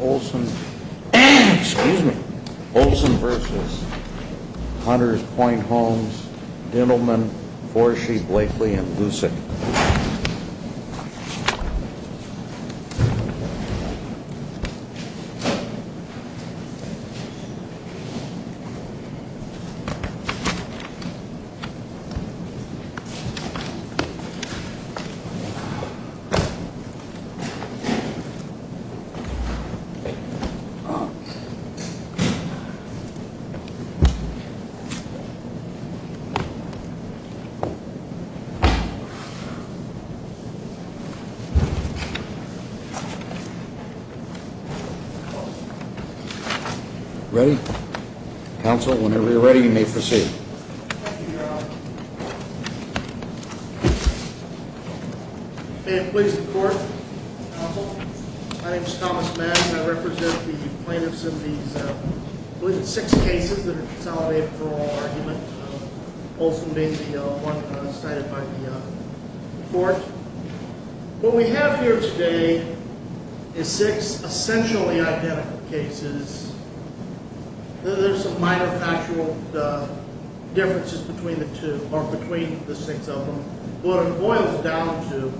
Olson v. Hunter's Point Homes Dentalman, Forshee, Blakely, and Lucek Ready? Council, whenever you're ready, you may proceed. Thank you, Your Honor. May it please the Court, Council. My name is Thomas Madden. I represent the plaintiffs in these, I believe it's six cases that are consolidated for oral argument. Olson being the one cited by the court. What we have here today is six essentially identical cases. There's some minor factual differences between the two, or between the six of them. What it boils down to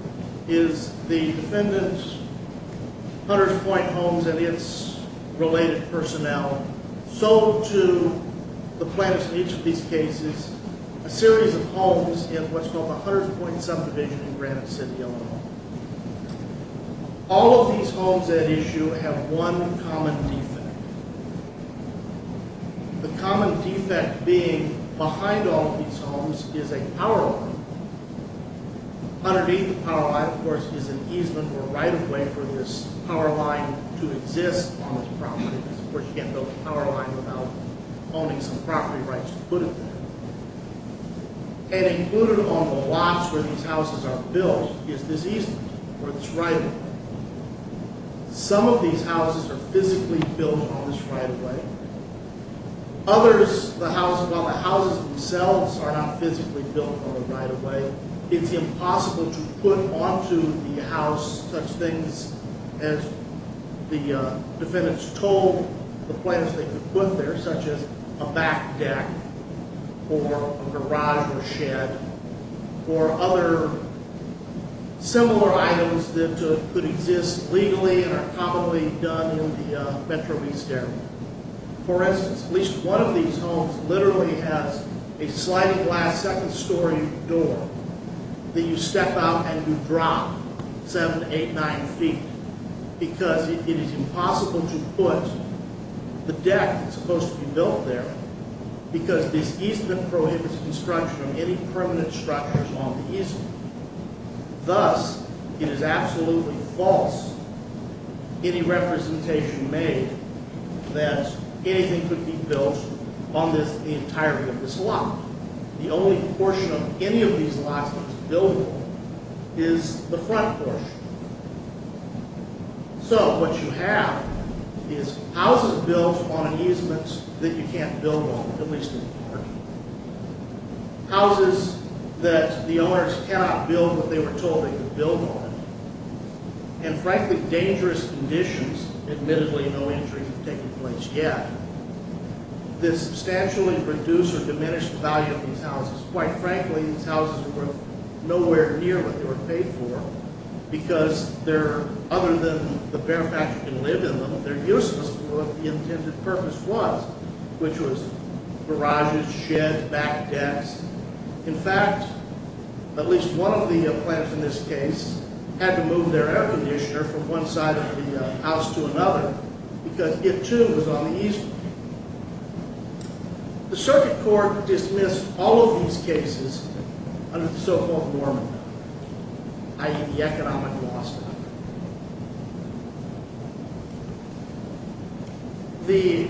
is the defendant's Hunter's Point Homes and its related personnel sold to the plaintiffs in each of these cases a series of homes in what's known as the Hunter's Point subdivision in Granite City, Illinois. All of these homes at issue have one common defect. The common defect being behind all of these homes is a power line. Underneath the power line, of course, is an easement or right-of-way for this power line to exist on this property. Of course, you can't build a power line without owning some property rights included there. And included on the lots where these houses are built is this easement, or this right-of-way. Some of these houses are physically built on this right-of-way. While the houses themselves are not physically built on the right-of-way, it's impossible to put onto the house such things as the defendants told the plaintiffs they could put there, such as a back deck or a garage or shed or other similar items that could exist legally and are commonly done in the Metro East area. For instance, at least one of these homes literally has a sliding glass second-story door that you step out and you drop 7, 8, 9 feet because it is impossible to put the deck that's supposed to be built there because this easement prohibits construction of any permanent structures on the easement. Thus, it is absolutely false any representation made that anything could be built on the entirety of this lot. The only portion of any of these lots that's buildable is the front portion. So what you have is houses built on easements that you can't build on, at least in the parking lot. Houses that the owners cannot build but they were told they could build on. And frankly, dangerous conditions, admittedly no injuries have taken place yet. This substantially reduced or diminished the value of these houses. Quite frankly, these houses are worth nowhere near what they were paid for because other than the bare fact you can live in them, they're useless for what the intended purpose was, which was garages, sheds, back decks. In fact, at least one of the plaintiffs in this case had to move their air conditioner from one side of the house to another because it, too, was on the easement. The circuit court dismissed all of these cases under the so-called Norman Act, i.e. the economic law stuff. The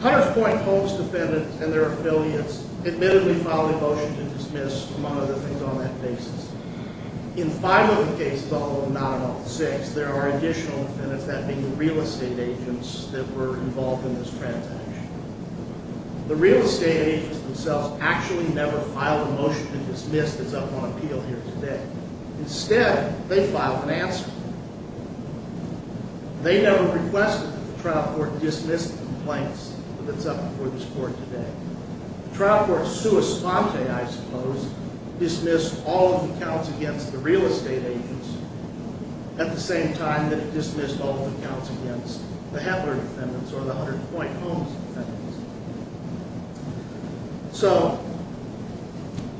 Hunters Point homes defendants and their affiliates admittedly filed a motion to dismiss one of the things on that basis. In five of the cases, although not in all six, there are additional defendants, that being the real estate agents that were involved in this transaction. The real estate agents themselves actually never filed a motion to dismiss that's up on appeal here today. Instead, they filed an answer. They never requested that the trial court dismiss the complaints that's up before this court today. The trial court sua sponte, I suppose, dismissed all of the counts against the real estate agents at the same time that it dismissed all of the counts against the Hetler defendants or the Hunters Point homes defendants. So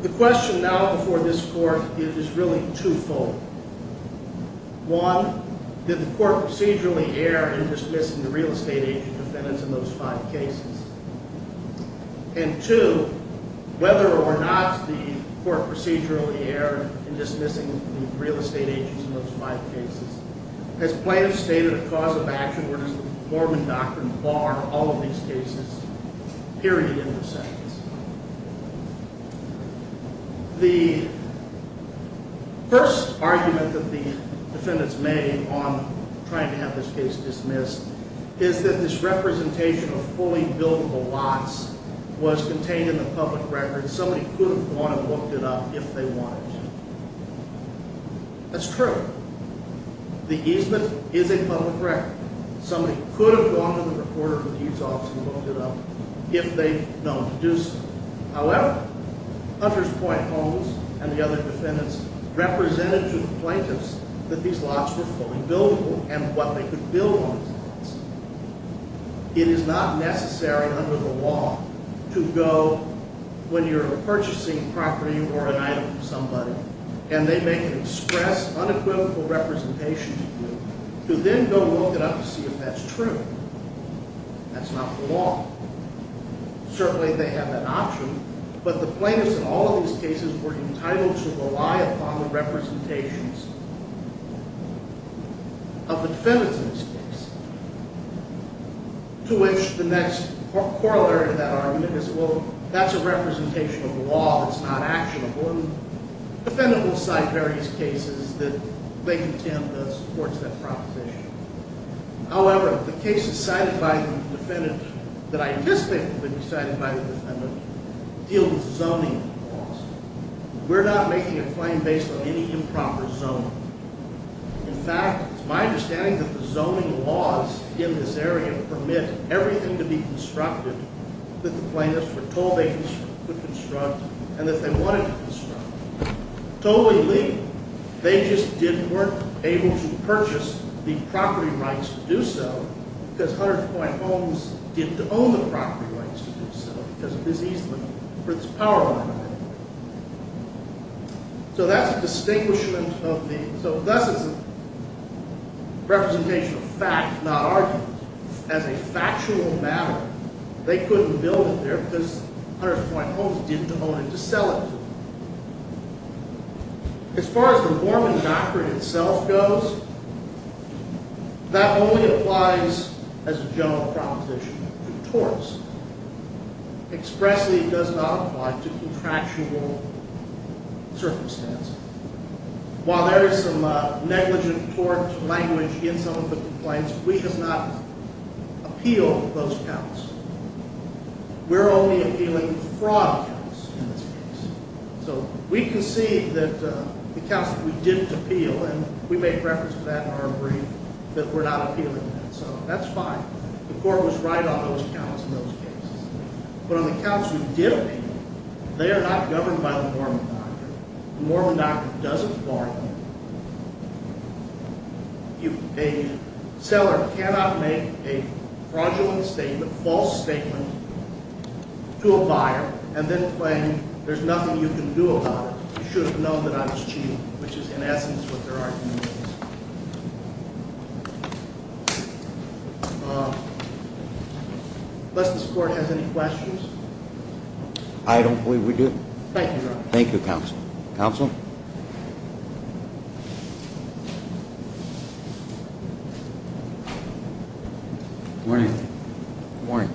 the question now before this court is really twofold. One, did the court procedurally err in dismissing the real estate agent defendants in those five cases? And two, whether or not the court procedurally erred in dismissing the real estate agents in those five cases, has plaintiffs stated a cause of action where does the Norman Doctrine bar all of these cases, period, in the sentence? The first argument that the defendants made on trying to have this case dismissed is that this representation of fully buildable lots was contained in the public record and somebody could have gone and looked it up if they wanted to. That's true. The easement is a public record. Somebody could have gone to the reporter for the easement office and looked it up if they'd known to do so. However, Hunters Point homes and the other defendants represented to the plaintiffs that these lots were fully buildable and what they could build on these lots. It is not necessary under the law to go when you're purchasing property or an item from somebody and they make an express, unequivocal representation to you to then go look it up to see if that's true. That's not the law. Certainly they have that option, but the plaintiffs in all of these cases were entitled to rely upon the representations of the defendants in this case, to which the next corollary to that argument is, well, that's a representation of law that's not actionable. The defendant will cite various cases that they contend supports that proposition. However, the cases cited by the defendant that I anticipate will be cited by the defendant deal with zoning laws. We're not making a claim based on any improper zoning. In fact, it's my understanding that the zoning laws in this area permit everything to be constructed that the plaintiffs were told they could construct and that they wanted to construct. Totally legal. They just weren't able to purchase the property rights to do so because 100th Point Homes didn't own the property rights to do so because of this easement for this power line. So that's a distinguishment of the, so thus it's a representation of fact, not argument. As a factual matter, they couldn't build it there because 100th Point Homes didn't own it to sell it. As far as the Borman doctrine itself goes, that only applies as a general proposition to torts. Expressly, it does not apply to contractual circumstances. While there is some negligent tort language in some of the complaints, we have not appealed those counts. We're only appealing fraud counts in this case. So we concede that the counts that we didn't appeal, and we make reference to that in our brief, that we're not appealing that. So that's fine. The court was right on those counts in those cases. But on the counts we did appeal, they are not governed by the Borman doctrine. The Borman doctrine doesn't bar them. A seller cannot make a fraudulent statement, false statement, to a buyer and then claim there's nothing you can do about it. You should have known that I was cheating, which is in essence what their argument is. Unless this court has any questions. I don't believe we do. Thank you, Your Honor. Thank you, Counsel. Counsel? Good morning. Good morning.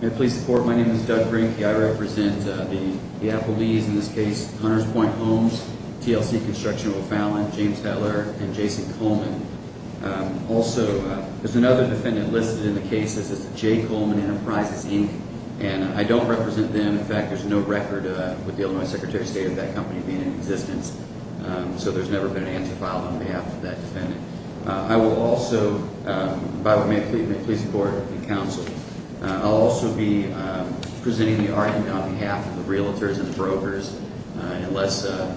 May it please the Court, my name is Doug Brink. I represent the Applebee's, in this case, Hunters Point Homes, TLC Construction, O'Fallon, James Heller, and Jason Coleman. Also, there's another defendant listed in the case. This is Jay Coleman Enterprises, Inc. And I don't represent them. In fact, there's no record with the Illinois Secretary of State of that company being in existence. So there's never been an answer filed on behalf of that defendant. I will also, by what may it please the Court and Counsel, I'll also be presenting the argument on behalf of the realtors and the brokers. Unless the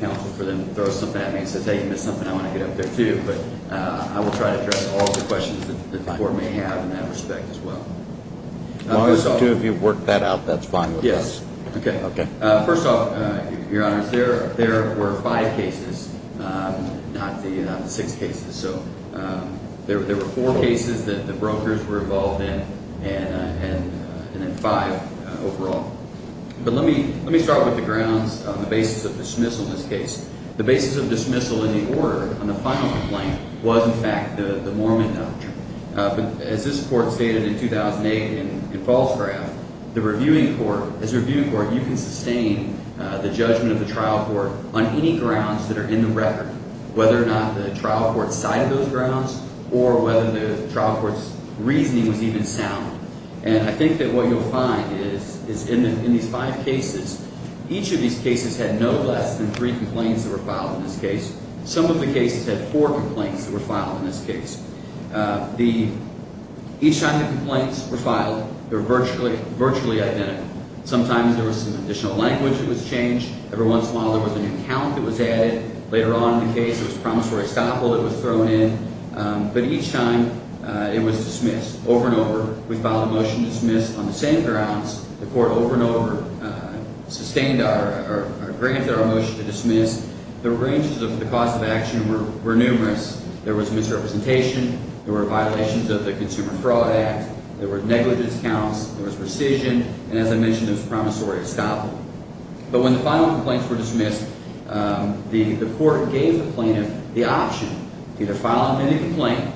counsel for them throws something at me and says, hey, you missed something, I want to get up there too. But I will try to address all of the questions that the Court may have in that respect as well. As long as the two of you have worked that out, that's fine with us. Yes. Okay. First off, Your Honor, there were five cases, not the six cases. So there were four cases that the brokers were involved in and then five overall. But let me start with the grounds on the basis of dismissal in this case. The basis of dismissal in the order on the final complaint was, in fact, the Mormon nudge. As this Court stated in 2008 in Falls Craft, the reviewing court, as a reviewing court, you can sustain the judgment of the trial court on any grounds that are in the record, whether or not the trial court cited those grounds or whether the trial court's reasoning was even sound. And I think that what you'll find is in these five cases, each of these cases had no less than three complaints that were filed in this case. Some of the cases had four complaints that were filed in this case. Each time the complaints were filed, they were virtually identical. Sometimes there was some additional language that was changed. Every once in a while there was a new count that was added. Later on in the case, there was promissory estoppel that was thrown in. But each time it was dismissed over and over. We filed a motion to dismiss on the same grounds. The Court over and over sustained or granted our motion to dismiss. The ranges of the cause of action were numerous. There was misrepresentation. There were violations of the Consumer Fraud Act. There were negligence counts. There was rescission. And as I mentioned, there was promissory estoppel. But when the final complaints were dismissed, the Court gave the plaintiff the option to either file an amended complaint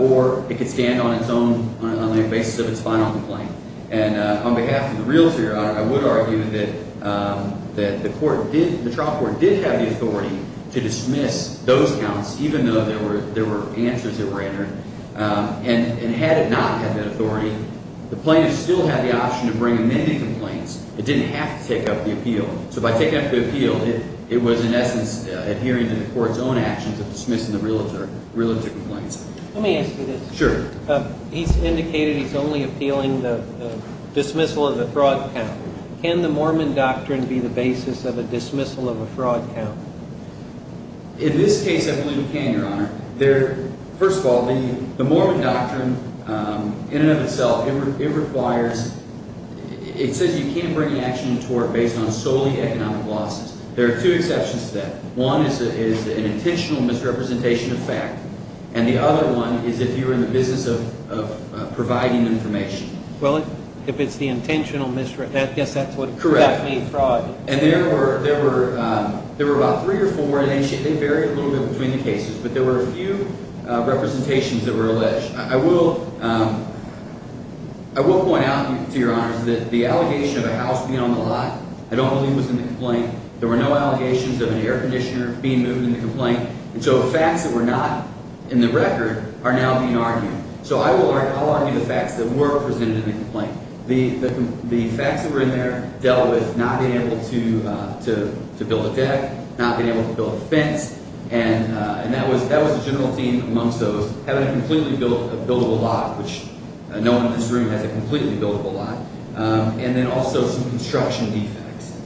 or it could stand on its own on the basis of its final complaint. And on behalf of the realtor, I would argue that the trial court did have the authority to dismiss those counts even though there were answers that were entered. And had it not had that authority, the plaintiff still had the option to bring amended complaints. It didn't have to take up the appeal. So by taking up the appeal, it was in essence adhering to the Court's own actions of dismissing the realtor complaints. Let me ask you this. Sure. He's indicated he's only appealing the dismissal of the fraud count. Can the Mormon doctrine be the basis of a dismissal of a fraud count? In this case, I believe it can, Your Honor. First of all, the Mormon doctrine in and of itself, it requires – it says you can't bring an action to court based on solely economic losses. There are two exceptions to that. One is an intentional misrepresentation of fact. And the other one is if you're in the business of providing information. Well, if it's the intentional – I guess that's what – Correct. That means fraud. And there were about three or four, and they vary a little bit between the cases. But there were a few representations that were alleged. I will point out to Your Honors that the allegation of a house being on the lot I don't believe was in the complaint. There were no allegations of an air conditioner being moved in the complaint. And so facts that were not in the record are now being argued. So I will argue the facts that were presented in the complaint. The facts that were in there dealt with not being able to build a deck, not being able to build a fence. And that was the general theme amongst those, having a completely buildable lot, which no one in this room has a completely buildable lot, and then also some construction defects.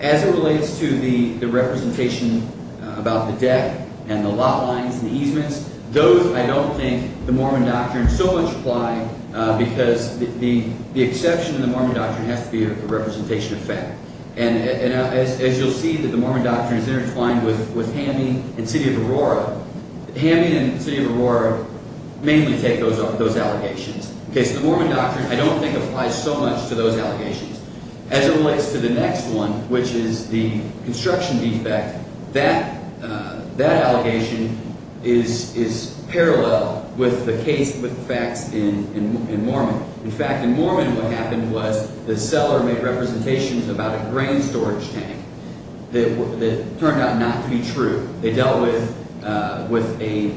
As it relates to the representation about the deck and the lot lines and the easements, those I don't think the Mormon doctrine so much apply because the exception in the Mormon doctrine has to be a representation of fact. And as you'll see that the Mormon doctrine is intertwined with Hammy and City of Aurora. Hammy and City of Aurora mainly take those allegations. So the Mormon doctrine I don't think applies so much to those allegations. As it relates to the next one, which is the construction defect, that allegation is parallel with the case with the facts in Mormon. In fact, in Mormon what happened was the seller made representations about a grain storage tank that turned out not to be true. They dealt with a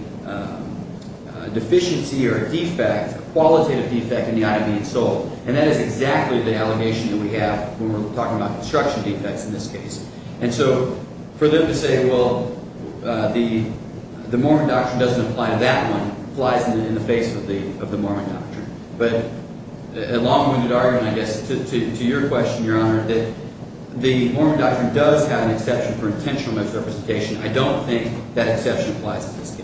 deficiency or a defect, a qualitative defect in the item being sold. And that is exactly the allegation that we have when we're talking about construction defects in this case. And so for them to say, well, the Mormon doctrine doesn't apply to that one applies in the face of the Mormon doctrine. But a long-winded argument, I guess, to your question, Your Honor, that the Mormon doctrine does have an exception for intentional misrepresentation. I don't think that exception applies in this case.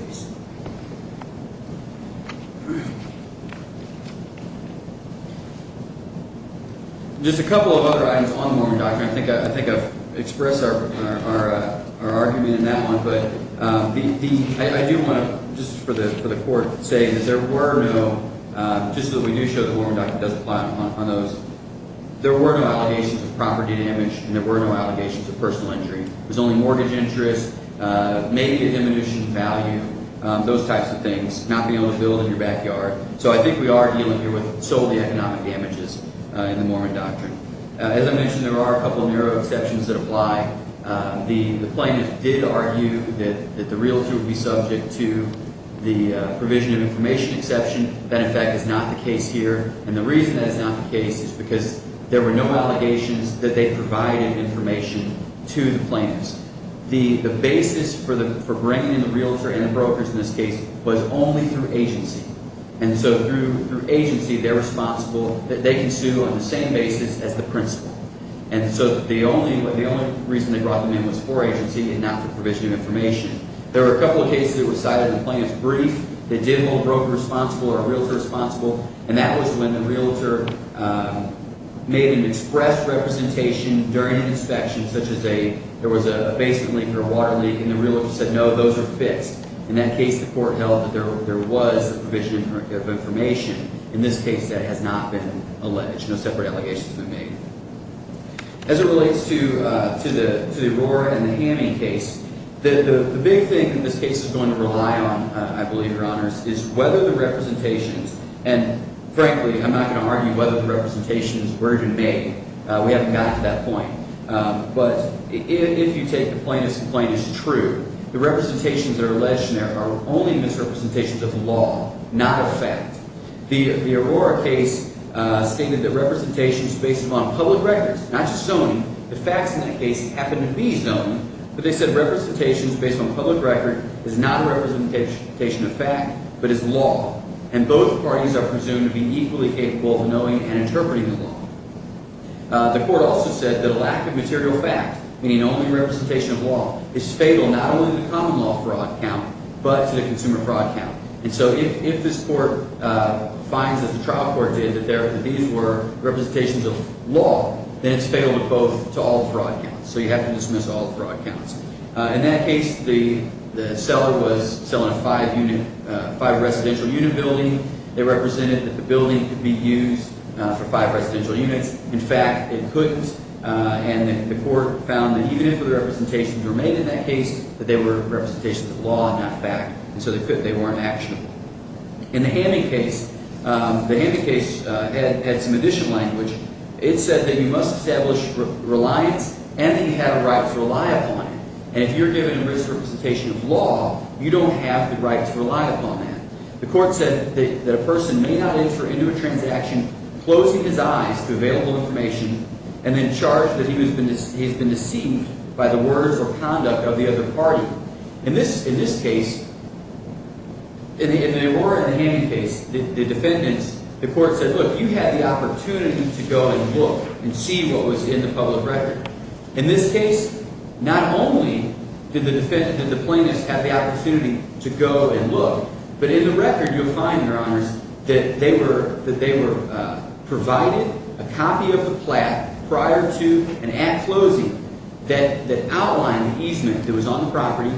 Just a couple of other items on the Mormon doctrine. I think I've expressed our argument in that one. But the – I do want to just for the court say that there were no – just so that we do show the Mormon doctrine does apply on those. There were no allegations of property damage and there were no allegations of personal injury. There was only mortgage interest, make and diminution of value, those types of things, not being able to build in your backyard. So I think we are dealing here with solely economic damages in the Mormon doctrine. As I mentioned, there are a couple of narrow exceptions that apply. The plaintiff did argue that the realtor would be subject to the provision of information exception. That, in fact, is not the case here. And the reason that it's not the case is because there were no allegations that they provided information to the plaintiffs. The basis for bringing in the realtor and the brokers in this case was only through agency. And so through agency, they're responsible – they can sue on the same basis as the principal. And so the only reason they brought them in was for agency and not for provision of information. There were a couple of cases that were cited in the plaintiff's brief that did hold brokers responsible or a realtor responsible. And that was when the realtor made an express representation during an inspection, such as a – there was a basement leak or a water leak. And the realtor said, no, those are fixed. In that case, the court held that there was a provision of information. In this case, that has not been alleged. No separate allegations have been made. As it relates to the Aurora and the Hamming case, the big thing that this case is going to rely on, I believe, Your Honors, is whether the representations – and frankly, I'm not going to argue whether the representations were even made. We haven't gotten to that point. But if you take the plaintiff's complaint as true, the representations that are alleged in there are only misrepresentations of the law, not of fact. The Aurora case stated that representations based upon public records – not just zoning. The facts in that case happen to be zoning, but they said representations based on public record is not a representation of fact but is law. And both parties are presumed to be equally capable of knowing and interpreting the law. The court also said that a lack of material fact, meaning only representation of law, is fatal not only to the common law fraud count but to the consumer fraud count. And so if this court finds that the trial court did, that these were representations of law, then it's fatal to both – to all fraud counts. So you have to dismiss all fraud counts. In that case, the seller was selling a five-residential unit building. They represented that the building could be used for five residential units. In fact, it couldn't. And the court found that even if the representations were made in that case, that they were representations of law and not fact. And so they weren't actionable. In the Hamming case, the Hamming case had some additional language. It said that you must establish reliance and that you have a right to rely upon it. And if you're given a misrepresentation of law, you don't have the right to rely upon that. The court said that a person may not enter into a transaction closing his eyes to available information and then charge that he has been deceived by the words or conduct of the other party. In this case – in the Aurora and the Hamming case, the defendants – the court said, look, you had the opportunity to go and look and see what was in the public record. In this case, not only did the plaintiffs have the opportunity to go and look, but in the record you'll find, Your Honors, that they were provided a copy of the plaque prior to an act closing that outlined the easement that was on the property.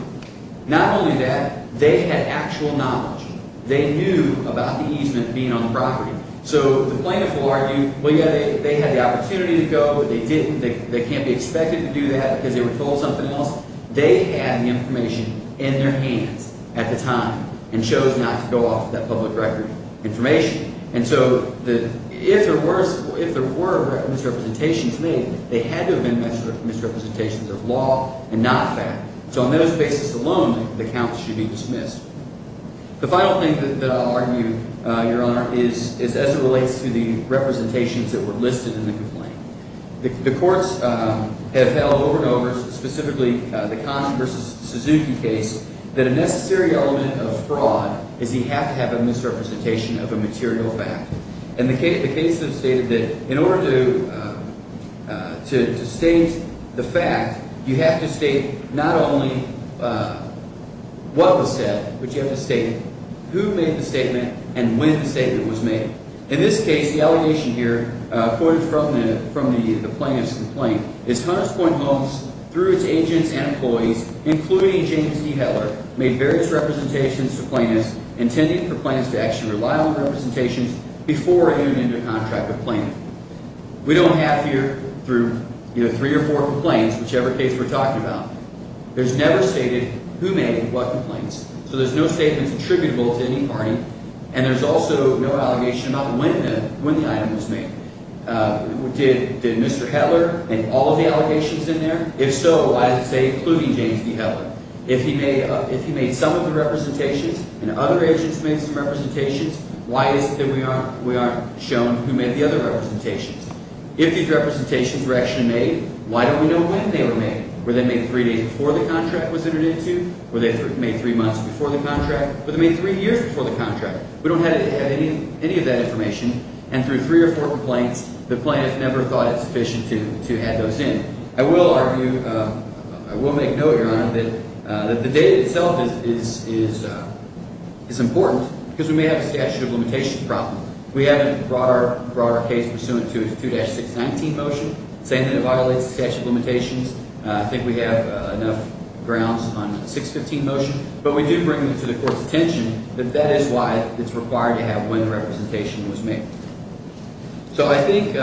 Not only that, they had actual knowledge. They knew about the easement being on the property. So the plaintiffs will argue, well, yeah, they had the opportunity to go, but they didn't. They can't be expected to do that because they were told something else. They had the information in their hands at the time and chose not to go off that public record information. And so if there were misrepresentations made, they had to have been misrepresentations of law and not fact. So on those basis alone, the count should be dismissed. The final thing that I'll argue, Your Honor, is as it relates to the representations that were listed in the complaint. The courts have held over and over, specifically the Kahn versus Suzuki case, that a necessary element of fraud is you have to have a misrepresentation of a material fact. And the case has stated that in order to state the fact, you have to state not only what was said, but you have to state who made the statement and when the statement was made. In this case, the allegation here quoted from the plaintiff's complaint is Hunters Point Homes, through its agents and employees, including James D. Heller, made various representations to plaintiffs intending for plaintiffs to actually rely on representations before entering into a contract with a plaintiff. We don't have here through three or four complaints, whichever case we're talking about, there's never stated who made what complaints. So there's no statements attributable to any party, and there's also no allegation about when the item was made. Did Mr. Heller make all of the allegations in there? If so, why is it saying including James D. Heller? If he made some of the representations and other agents made some representations, why is it that we aren't shown who made the other representations? If these representations were actually made, why don't we know when they were made? Were they made three days before the contract was entered into? Were they made three months before the contract? Were they made three years before the contract? We don't have any of that information, and through three or four complaints, the plaintiff never thought it sufficient to add those in. I will argue – I will make note, Your Honor, that the data itself is important because we may have a statute of limitations problem. We haven't brought our case pursuant to a 2-619 motion, saying that it violates the statute of limitations. I think we have enough grounds on a 615 motion. But we do bring it to the court's attention that that is why it's required to have when the representation was made. So I think,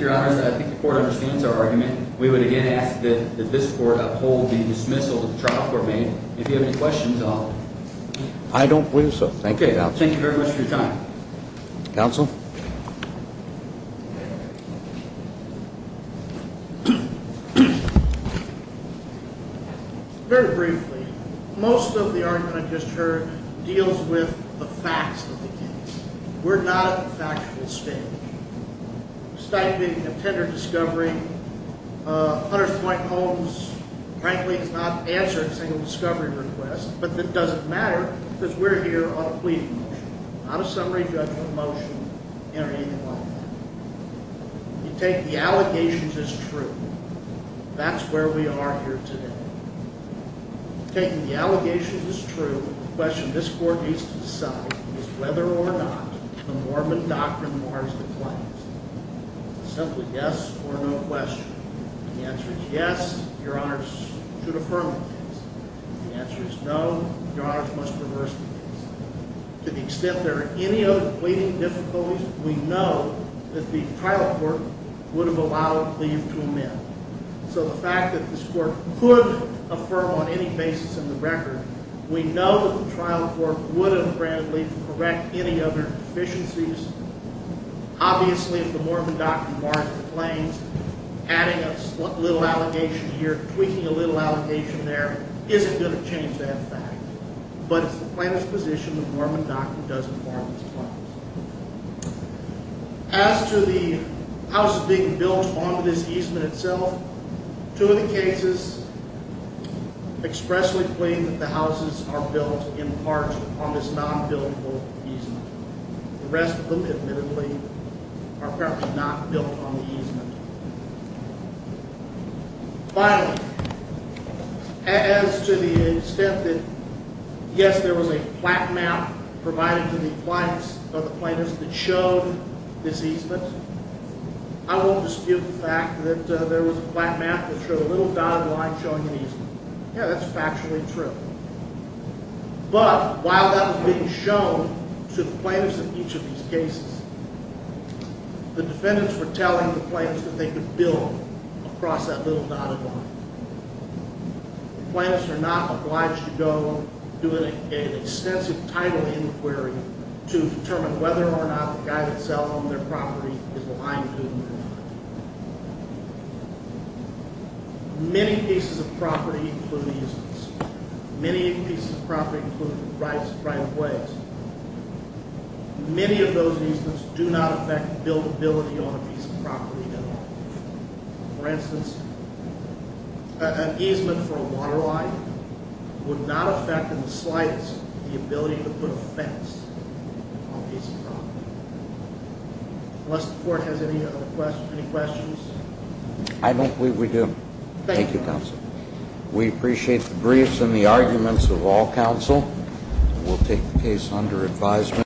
Your Honor, I think the court understands our argument. We would again ask that this court uphold the dismissal that the trial court made. If you have any questions, I'll – I don't, please, sir. Thank you. Thank you very much for your time. Counsel? Very briefly, most of the argument I just heard deals with the facts of the case. We're not in a factual state. Stifling a tender discovery, Hunter's Point Holmes, frankly, has not answered a single discovery request. But that doesn't matter because we're here on a plea motion, not a summary judgment motion or anything like that. You take the allegations as true. That's where we are here today. Taking the allegations as true, the question this court needs to decide is whether or not the Mormon Doctrine Mars declines. Simply yes or no question. If the answer is yes, Your Honor should affirm the case. If the answer is no, Your Honor must reverse the case. To the extent there are any other pleading difficulties, we know that the trial court would have allowed leave to amend. So the fact that this court could affirm on any basis in the record, we know that the trial court would have granted leave to correct any other deficiencies. Obviously, if the Mormon Doctrine Mars declines, adding a little allegation here, tweaking a little allegation there isn't going to change that fact. But it's the plaintiff's position the Mormon Doctrine doesn't Mars declines. As to the houses being built on this easement itself, two of the cases expressly claim that the houses are built in part on this non-buildable easement. The rest of them, admittedly, are apparently not built on the easement. Finally, as to the extent that, yes, there was a plaque map provided to the plaintiffs that showed this easement, I won't dispute the fact that there was a plaque map that showed a little dotted line showing an easement. Yeah, that's factually true. But while that was being shown to the plaintiffs in each of these cases, the defendants were telling the plaintiffs that they could build across that little dotted line. The plaintiffs are not obliged to go do an extensive title inquiry to determine whether or not the guy that sold them their property is lying to them. Many pieces of property include easements. Many pieces of property include right-of-ways. Many of those easements do not affect buildability on a piece of property at all. For instance, an easement for a water line would not affect in the slightest the ability to put a fence on a piece of property. Unless the court has any questions. I don't believe we do. Thank you, counsel. We appreciate the briefs and the arguments of all counsel. We'll take the case under advisement.